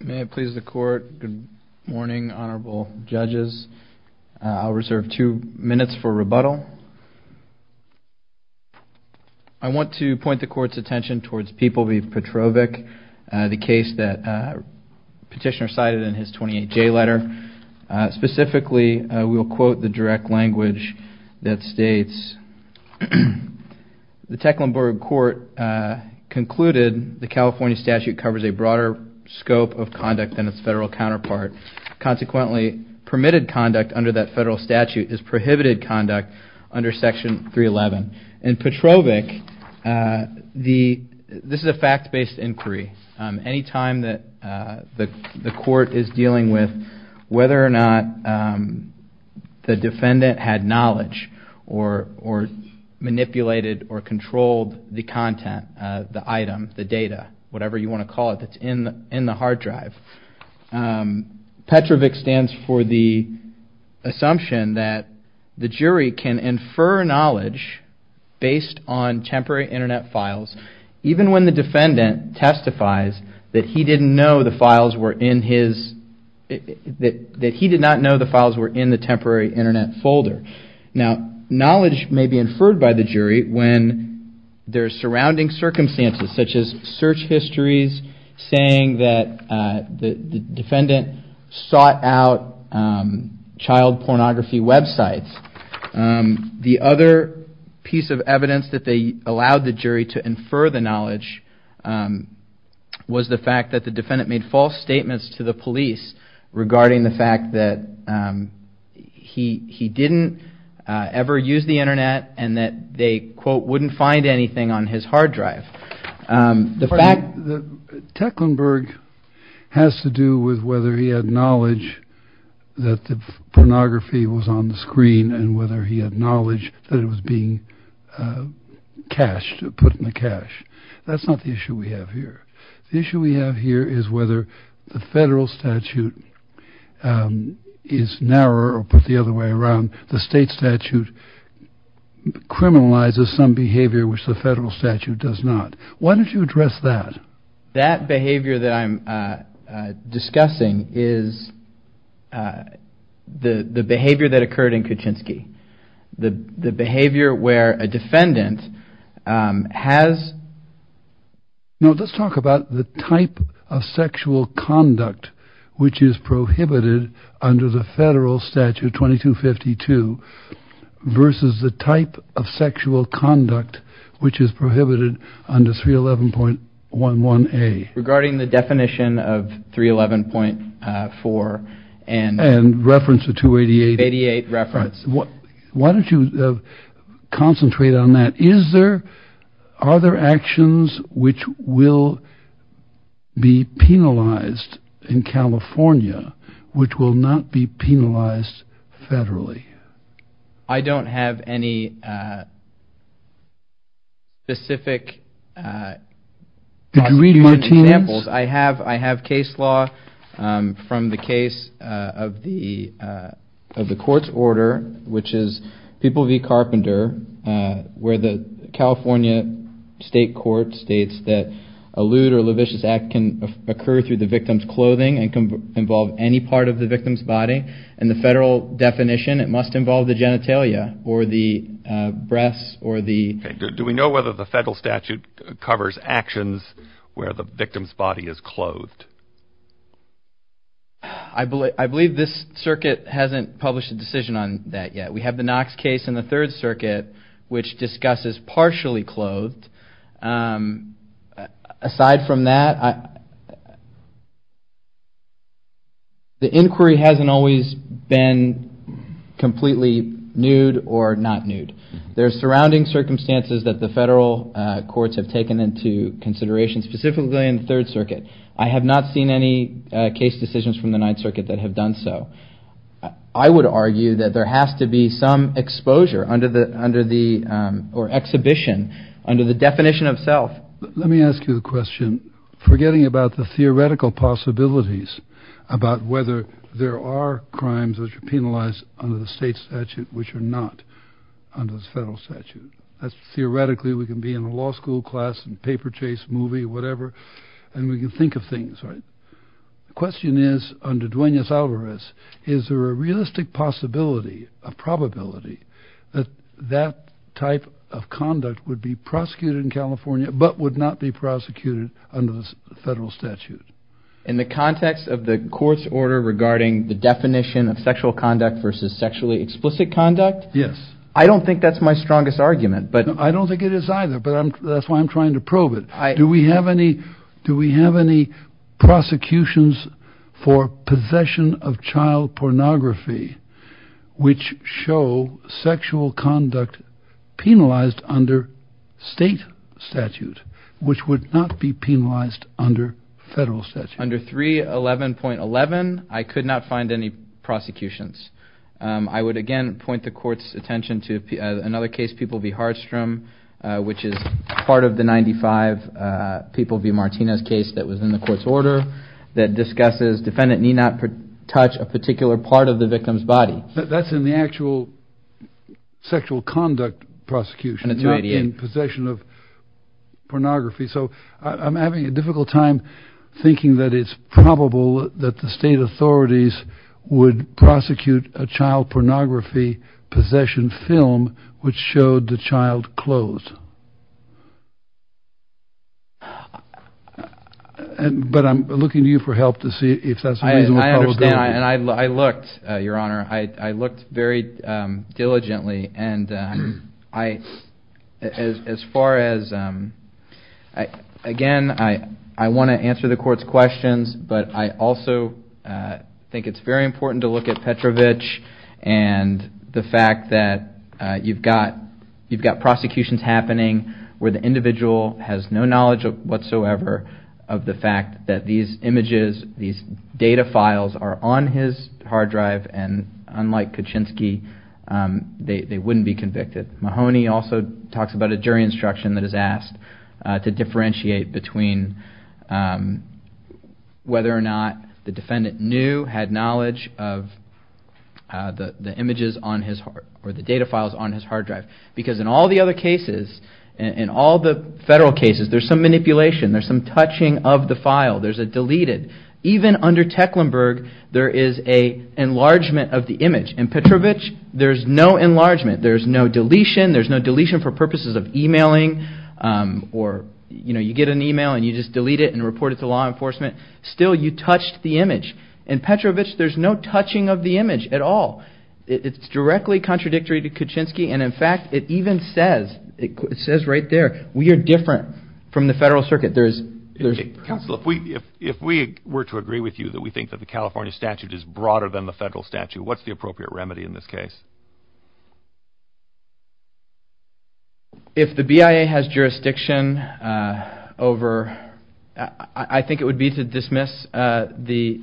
May it please the court. Good morning, honorable judges. I'll reserve two minutes for rebuttal. I want to point the court's attention towards Peeple v. Petrovic, the case that the petitioner cited in his 28-J letter. Specifically, we'll quote the direct language that states, the Tecklenburg court concluded the California statute covers a broader scope of conduct than its federal counterpart. Consequently, permitted conduct under that federal statute is prohibited conduct under section 311. In Petrovic, this is a fact-based inquiry. Any time that the court is manipulated or controlled the content, the item, the data, whatever you want to call it, that's in the hard drive. Petrovic stands for the assumption that the jury can infer knowledge based on temporary internet files, even when the defendant testifies that he did not know the files were in the temporary internet folder. Now, knowledge may be inferred by the jury when there's surrounding circumstances, such as search histories saying that the defendant sought out child pornography websites. The other piece of evidence that they allowed the jury to infer the knowledge was the fact that the defendant made false statements to the police regarding the he didn't ever use the internet and that they, quote, wouldn't find anything on his hard drive. The fact that Tecklenburg has to do with whether he had knowledge that the pornography was on the screen and whether he had knowledge that it was being cashed, put in the cash. That's not the is whether the federal statute is narrower or put the other way around. The state statute criminalizes some behavior which the federal statute does not. Why don't you address that? That behavior that I'm discussing is the behavior that occurred in Kuczynski, the behavior where a defendant has. Now, let's talk about the type of sexual conduct which is prohibited under the federal statute 2252 versus the type of sexual conduct which is prohibited under 311.11a. Regarding the definition of 311.4 and. And reference to 288. Reference, what why don't you concentrate on that? Is there are there actions which will be penalized in California, which will not be penalized federally? I don't have any. Specific. Did you read Martinez? I have I have case law from the case of the of the court's order, which is People v. Carpenter, where the California state court states that a lewd or lavish act can occur through the victim's clothing and can involve any part of the victim's body and the federal definition, it must involve the genitalia or the breasts or the. Do we know whether the federal statute covers actions where the victim's body is clothed? I believe I believe this circuit hasn't published a decision on that yet. We have the Knox case in the Third Circuit, which discusses partially clothed. Aside from that. The inquiry hasn't always been completely nude or not nude. There are surrounding circumstances that the federal courts have taken into consideration, specifically in the Third Circuit. I have not seen any case decisions from the Ninth Circuit that have done so. I would argue that there has to be some exposure under the under the or exhibition under the definition of self. Let me ask you the question, forgetting about the theoretical possibilities about whether there are crimes which are penalized under the state statute, which are not under the federal statute. That's theoretically we can be in a law school class and paper chase movie, whatever, and we can think of things, right? The question is, under Duenas-Alvarez, is there a realistic possibility, a probability that that type of conduct would be prosecuted in California, but would not be prosecuted under the federal statute? In the context of the court's order regarding the definition of sexual conduct versus sexually explicit conduct? Yes. I don't think that's my strongest argument, but. I don't think it is either, but that's why I'm trying to probe it. Do we have any prosecutions for possession of child pornography, which show sexual conduct penalized under state statute, which would not be penalized under federal statute? Under 311.11, I could not find any prosecutions. I would again point the court's attention to another case, People v. Hardstrom, which is part of the 95 People v. Martinez case that was in the court's order that discusses defendant need not touch a particular part of the victim's body. That's in the actual sexual conduct prosecution. And it's not in possession of pornography. So I'm having a difficult time thinking that it's probable that the state authorities would prosecute a child pornography possession film, which showed the child clothes. But I'm looking to you for help to see if that's the reason. I understand. And I looked, Your Honor, I looked very diligently. And I, as far as, again, I want to answer the court's questions, but I also think it's very important to look at Petrovich and the fact that you've got prosecutions happening where the individual has no knowledge whatsoever of the fact that these images, these data files are on his hard drive. And unlike Kuczynski, they wouldn't be convicted. Mahoney also talks about a jury instruction that is asked to differentiate between whether or not the defendant knew, had knowledge of the images on his hard, or the data files on his hard drive. Because in all the other cases, in all the federal cases, there's some manipulation. There's some touching of the file. There's a deleted. Even under Tecklenburg, there is a enlargement of the image. In Petrovich, there's no enlargement. There's no deletion. There's no deletion for purposes of emailing or, you know, you get an email and you just delete it and report it to law enforcement. Still, you touched the image. In Petrovich, there's no touching of the image at all. It's directly contradictory to Kuczynski. And in fact, it even says, it says right there, we are different from the federal circuit. There's... Counselor, if we were to agree with you that we think that the California statute is broader than the federal statute, what's the appropriate remedy in this case? If the BIA has jurisdiction over, I think it would be to dismiss the...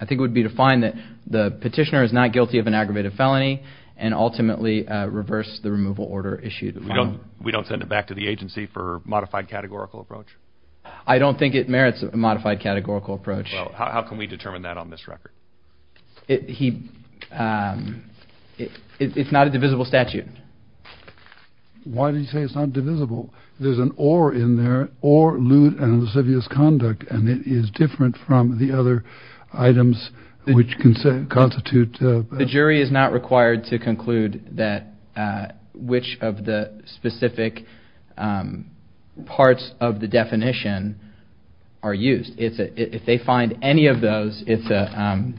I think it would be to find that the petitioner is not guilty of an aggravated felony and ultimately reverse the removal order issued. We don't, we don't send it back to the agency for modified categorical approach? I don't think it merits a modified categorical approach. Well, how can we determine that on this record? It, he, it, it's not a divisible statute. Why did you say it's not divisible? There's an or in there, or lewd and lascivious conduct, and it is different from the other items which can constitute... The jury is not required to conclude that which of the specific parts of the definition are used. If they find any of those, it's a,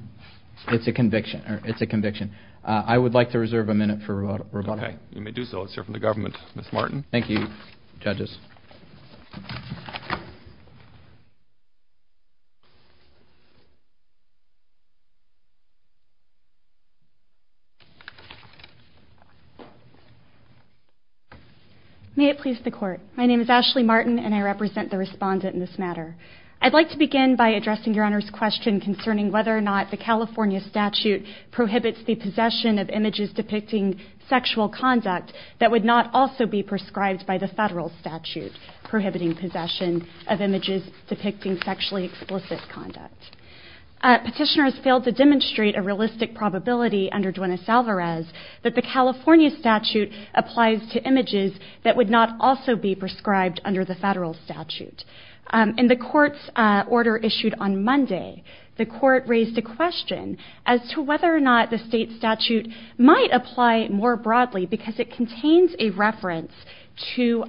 it's a conviction, or it's a conviction. I would like to reserve a minute for rebuttal. Okay, you may do so. Let's hear from the government. Ms. Martin. Thank you, judges. May it please the court. My name is Ashley Martin, and I represent the respondent in this matter. I'd like to begin by addressing your honor's question concerning whether or not the California statute prohibits the possession of images depicting sexual conduct that would not also be prescribed by the federal statute prohibiting possession of images depicting sexually explicit conduct. Petitioners failed to demonstrate a realistic probability under Duenas-Alvarez that the California statute applies to images that would not also be prescribed under the federal statute. In the court's order issued on Monday, the court raised a question as to whether or not the state statute might apply more broadly because it contains a reference to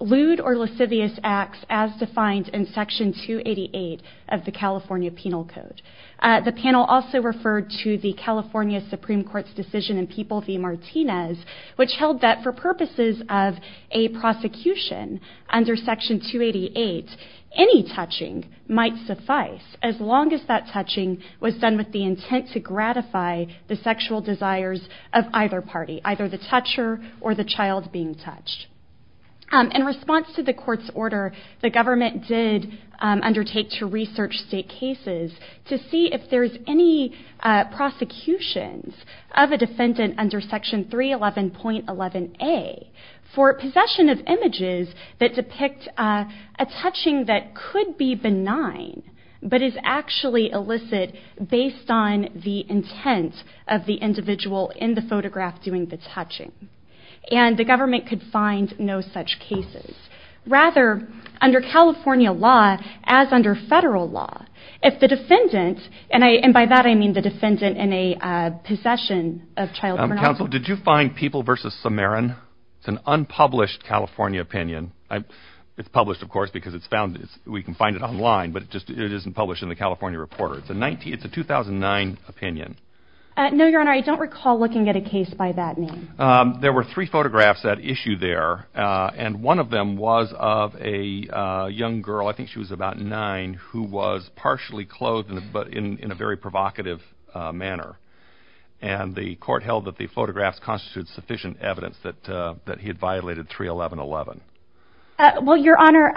lewd or lascivious acts as defined in Section 288 of the California Penal Code. The panel also referred to the California Supreme Court's decision in People v. any touching might suffice as long as that touching was done with the intent to gratify the sexual desires of either party, either the toucher or the child being touched. In response to the court's order, the government did undertake to research state cases to see if there's any prosecutions of a defendant under Section 311.11a for possession of images that depict a touching that could be benign but is actually illicit based on the intent of the individual in the photograph doing the touching. And the government could find no such cases. Rather, under California law, as under federal law, if the defendant, and by that I mean the defendant in a possession of child pornography. Counsel, did you find People v. Samarin? It's an unpublished California opinion. It's published, of course, because we can find it online, but it isn't published in the California Reporter. It's a 2009 opinion. No, Your Honor, I don't recall looking at a case by that name. There were three photographs at issue there, and one of them was of a young girl, I think she was about nine, who was partially clothed but in a very provocative manner. And the court held that the photographs constituted sufficient evidence that he had violated 311.11. Well, Your Honor,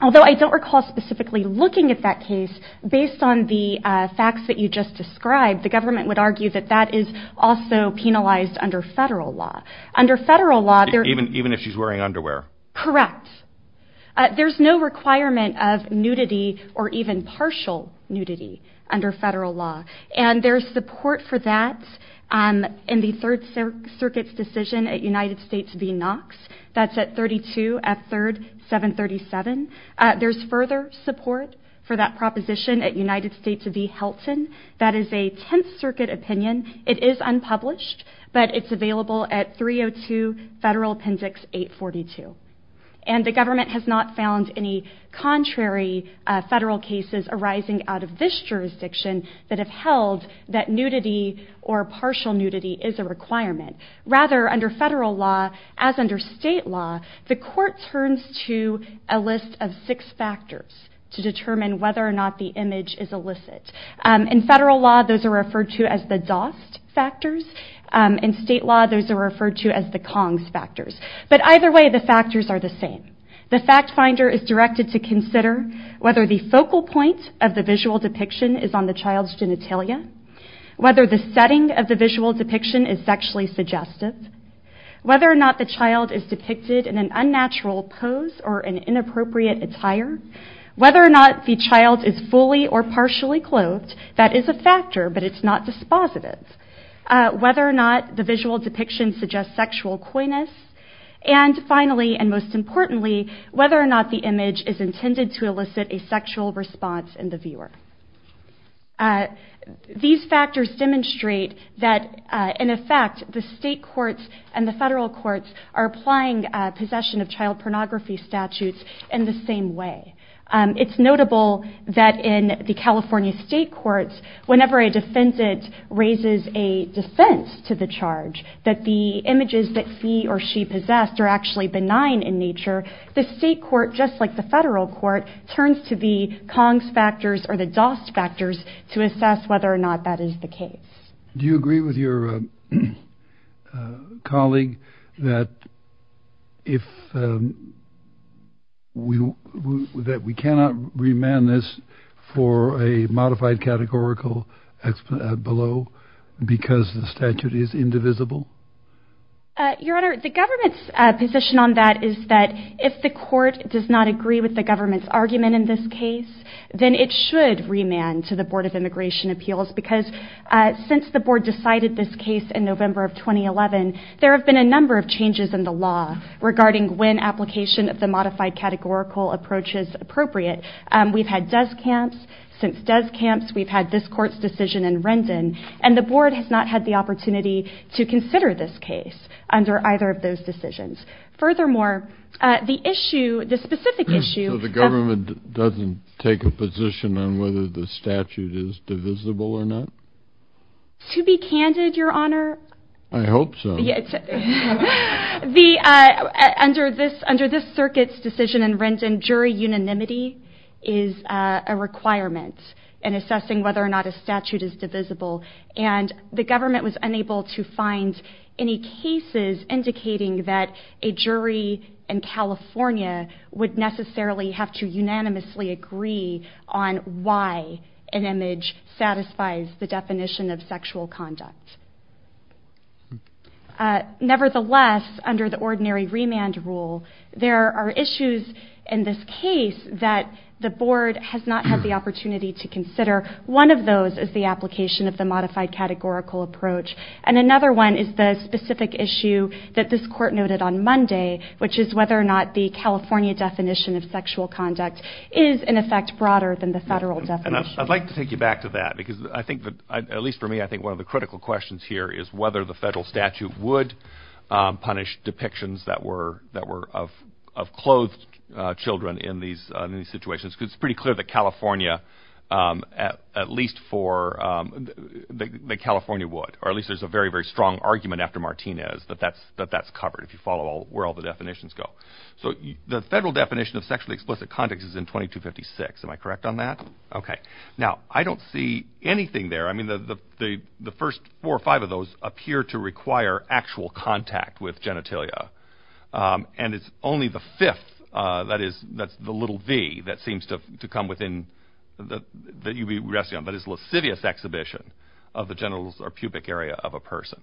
although I don't recall specifically looking at that case, based on the facts that you just described, the government would argue that that is also penalized under federal law. Under federal law, there... Even if she's wearing underwear? Correct. There's no requirement of nudity or even partial nudity under federal law. And there's support for that in the Third Circuit's decision at United States v. Knox. That's at 32 F. 3rd 737. There's further support for that proposition at United States v. Helton. That is a Tenth Circuit opinion. It is unpublished, but it's available at 302 Federal Appendix 842. And the government has not found any contrary federal cases arising out of this jurisdiction that have held that nudity or partial nudity is a requirement. Rather, under federal law, as under state law, the court turns to a list of six factors to determine whether or not the image is illicit. In federal law, those are referred to as the DOST factors. In state law, those are referred to as the KONGS factors. But either way, the factors are the same. The fact finder is directed to consider whether the focal point of the visual depiction is on the child's genitalia, whether the setting of the visual depiction is sexually suggestive, whether or not the child is depicted in an unnatural pose or an inappropriate attire, whether or not the child is fully or partially clothed. That is a factor, but it's not dispositive. Whether or not the visual depiction suggests sexual coyness. And finally, and most importantly, whether or not the image is intended to elicit a sexual response in the viewer. These factors demonstrate that, in effect, the state courts and the federal courts are applying possession of child pornography statutes in the same way. It's notable that in the California state courts, whenever a defendant raises a defense to the charge that the images that he or she possessed are actually benign in nature, the state court, just like the federal court, turns to the KONGS factors or the DOS factors to assess whether or not that is the case. Do you agree with your colleague that we cannot remand this for a modified categorical below because the statute is indivisible? Your Honor, the government's position on that is that if the court does not agree with the government's argument in this case, then it should remand to the Board of Immigration Appeals because since the board decided this case in November of 2011, there have been a number of changes in the law regarding when application of the modified categorical approach is appropriate. We've had desk camps. Since desk camps, we've had this court's decision in Rendon, and the board has not had the opportunity to consider this case under either of those decisions. Furthermore, the issue, the specific issue... So the government doesn't take a position on whether the statute is divisible or not? To be candid, Your Honor... I hope so. Under this circuit's decision in Rendon, jury unanimity is a requirement in assessing whether or not a statute is divisible, and the government was unable to find any cases indicating that a jury in California would necessarily have to unanimously agree on why an image satisfies the definition of sexual conduct. Nevertheless, under the ordinary remand rule, there are issues in this case that the board has not had the opportunity to consider. One of those is the application of the modified categorical approach, and another one is the specific issue that this court noted on Monday, which is whether or not the California definition of sexual conduct is, in effect, broader than the federal definition. I'd like to take you back to that, because I think that, at least for me, I think one of the critical questions here is whether the federal statute would punish depictions that were of clothed children in these situations, because it's pretty clear that California would, or at least there's a very, very strong argument after Martinez that that's covered, if you follow where all the definitions go. So the federal definition of sexually explicit conduct is in 2256. Am I correct on that? Okay. Now, I don't see anything there. I mean, the first four or five of those appear to require actual contact with genitalia, and it's only the fifth, that is, that's the little v, that seems to come within, that you'd be resting on, that is, lascivious exhibition of the genitals or pubic area of a person.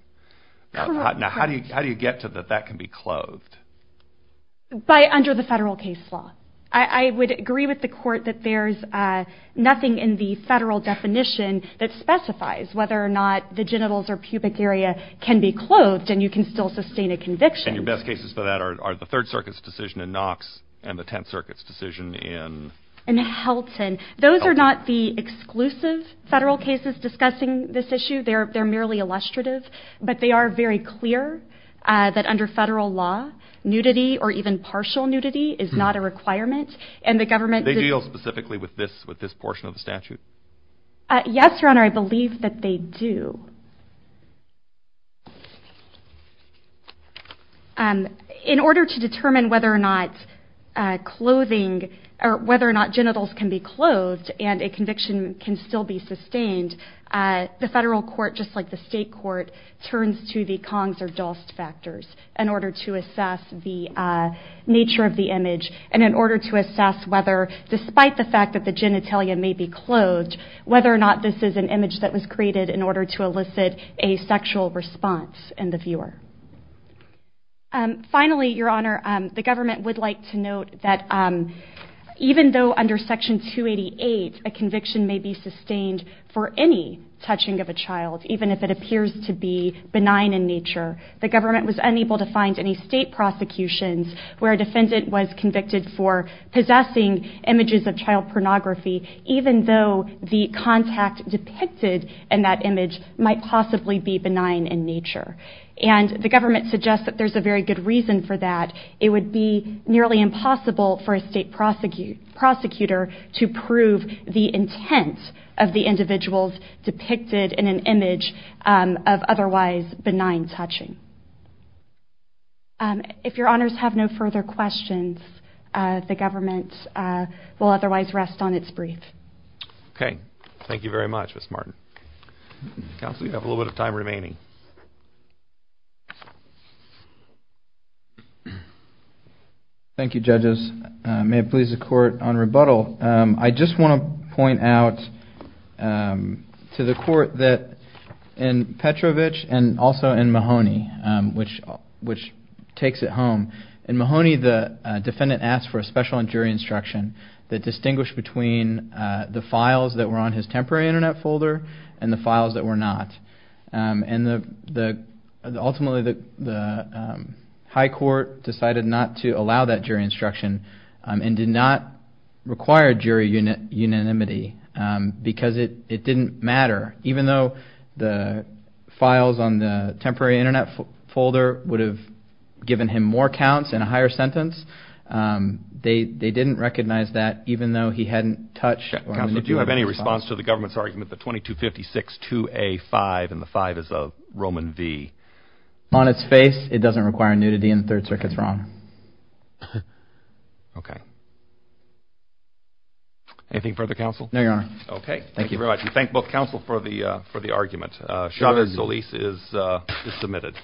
Now, how do you get to that that can be clothed? By under the federal case law. I would agree with the court that there's nothing in the federal definition that specifies whether or not the genitals or pubic area can be clothed, and you can still sustain a conviction. And your best cases for that are the Third Circuit's decision in Knox, and the Tenth Circuit's decision in... In Helton. Those are not the exclusive federal cases discussing this issue. They're merely illustrative, but they are very clear that under federal law, nudity or even partial nudity is not a requirement, and the government... They deal specifically with this portion of the statute? Yes, Your Honor, I believe that they do. In order to determine whether or not clothing, or whether or not genitals can be clothed, and a conviction can still be sustained, the federal court, just like the state court, turns to the Kongs or Dost factors in order to assess the nature of the image, and in order to assess whether, despite the fact that the genitalia may be clothed, whether or not this is an image that was created in order to elicit a sexual response in the viewer. Finally, Your Honor, the government would like to note that, even though under Section 288, a conviction may be sustained for any touching of a child, even if it appears to be benign in nature, the government was unable to find any state prosecutions where a defendant was convicted for possessing images of child pornography, even though the contact depicted in that image might possibly be benign in nature. And the government suggests that there's a very good reason for that. It would be nearly impossible for a state prosecutor to prove the intent of the individuals depicted in an image of otherwise benign touching. If Your Honors have no further questions, the government will otherwise rest on its brief. Okay, thank you very much, Ms. Martin. Counsel, you have a little bit of time remaining. Thank you, Judges. May it please the Court, on rebuttal, I just want to point out to the Court that in Petrovich and also in Mahoney, which takes it home, in Mahoney, the defendant asked for a special jury instruction that distinguished between the files that were on his temporary internet folder and the files that were not. And ultimately, the High Court decided not to allow that jury instruction and did not require jury unanimity because it didn't matter, even though the files on the temporary internet folder would have given him more counts and a higher sentence. They didn't recognize that, even though he hadn't touched. Counsel, do you have any response to the government's argument that 2256-2A-5, and the 5 is a Roman V? On its face, it doesn't require nudity, and the Third Circuit's wrong. Okay. Anything further, Counsel? No, Your Honor. Okay, thank you very much. We thank both counsel for the argument. Chavez-Solis is submitted.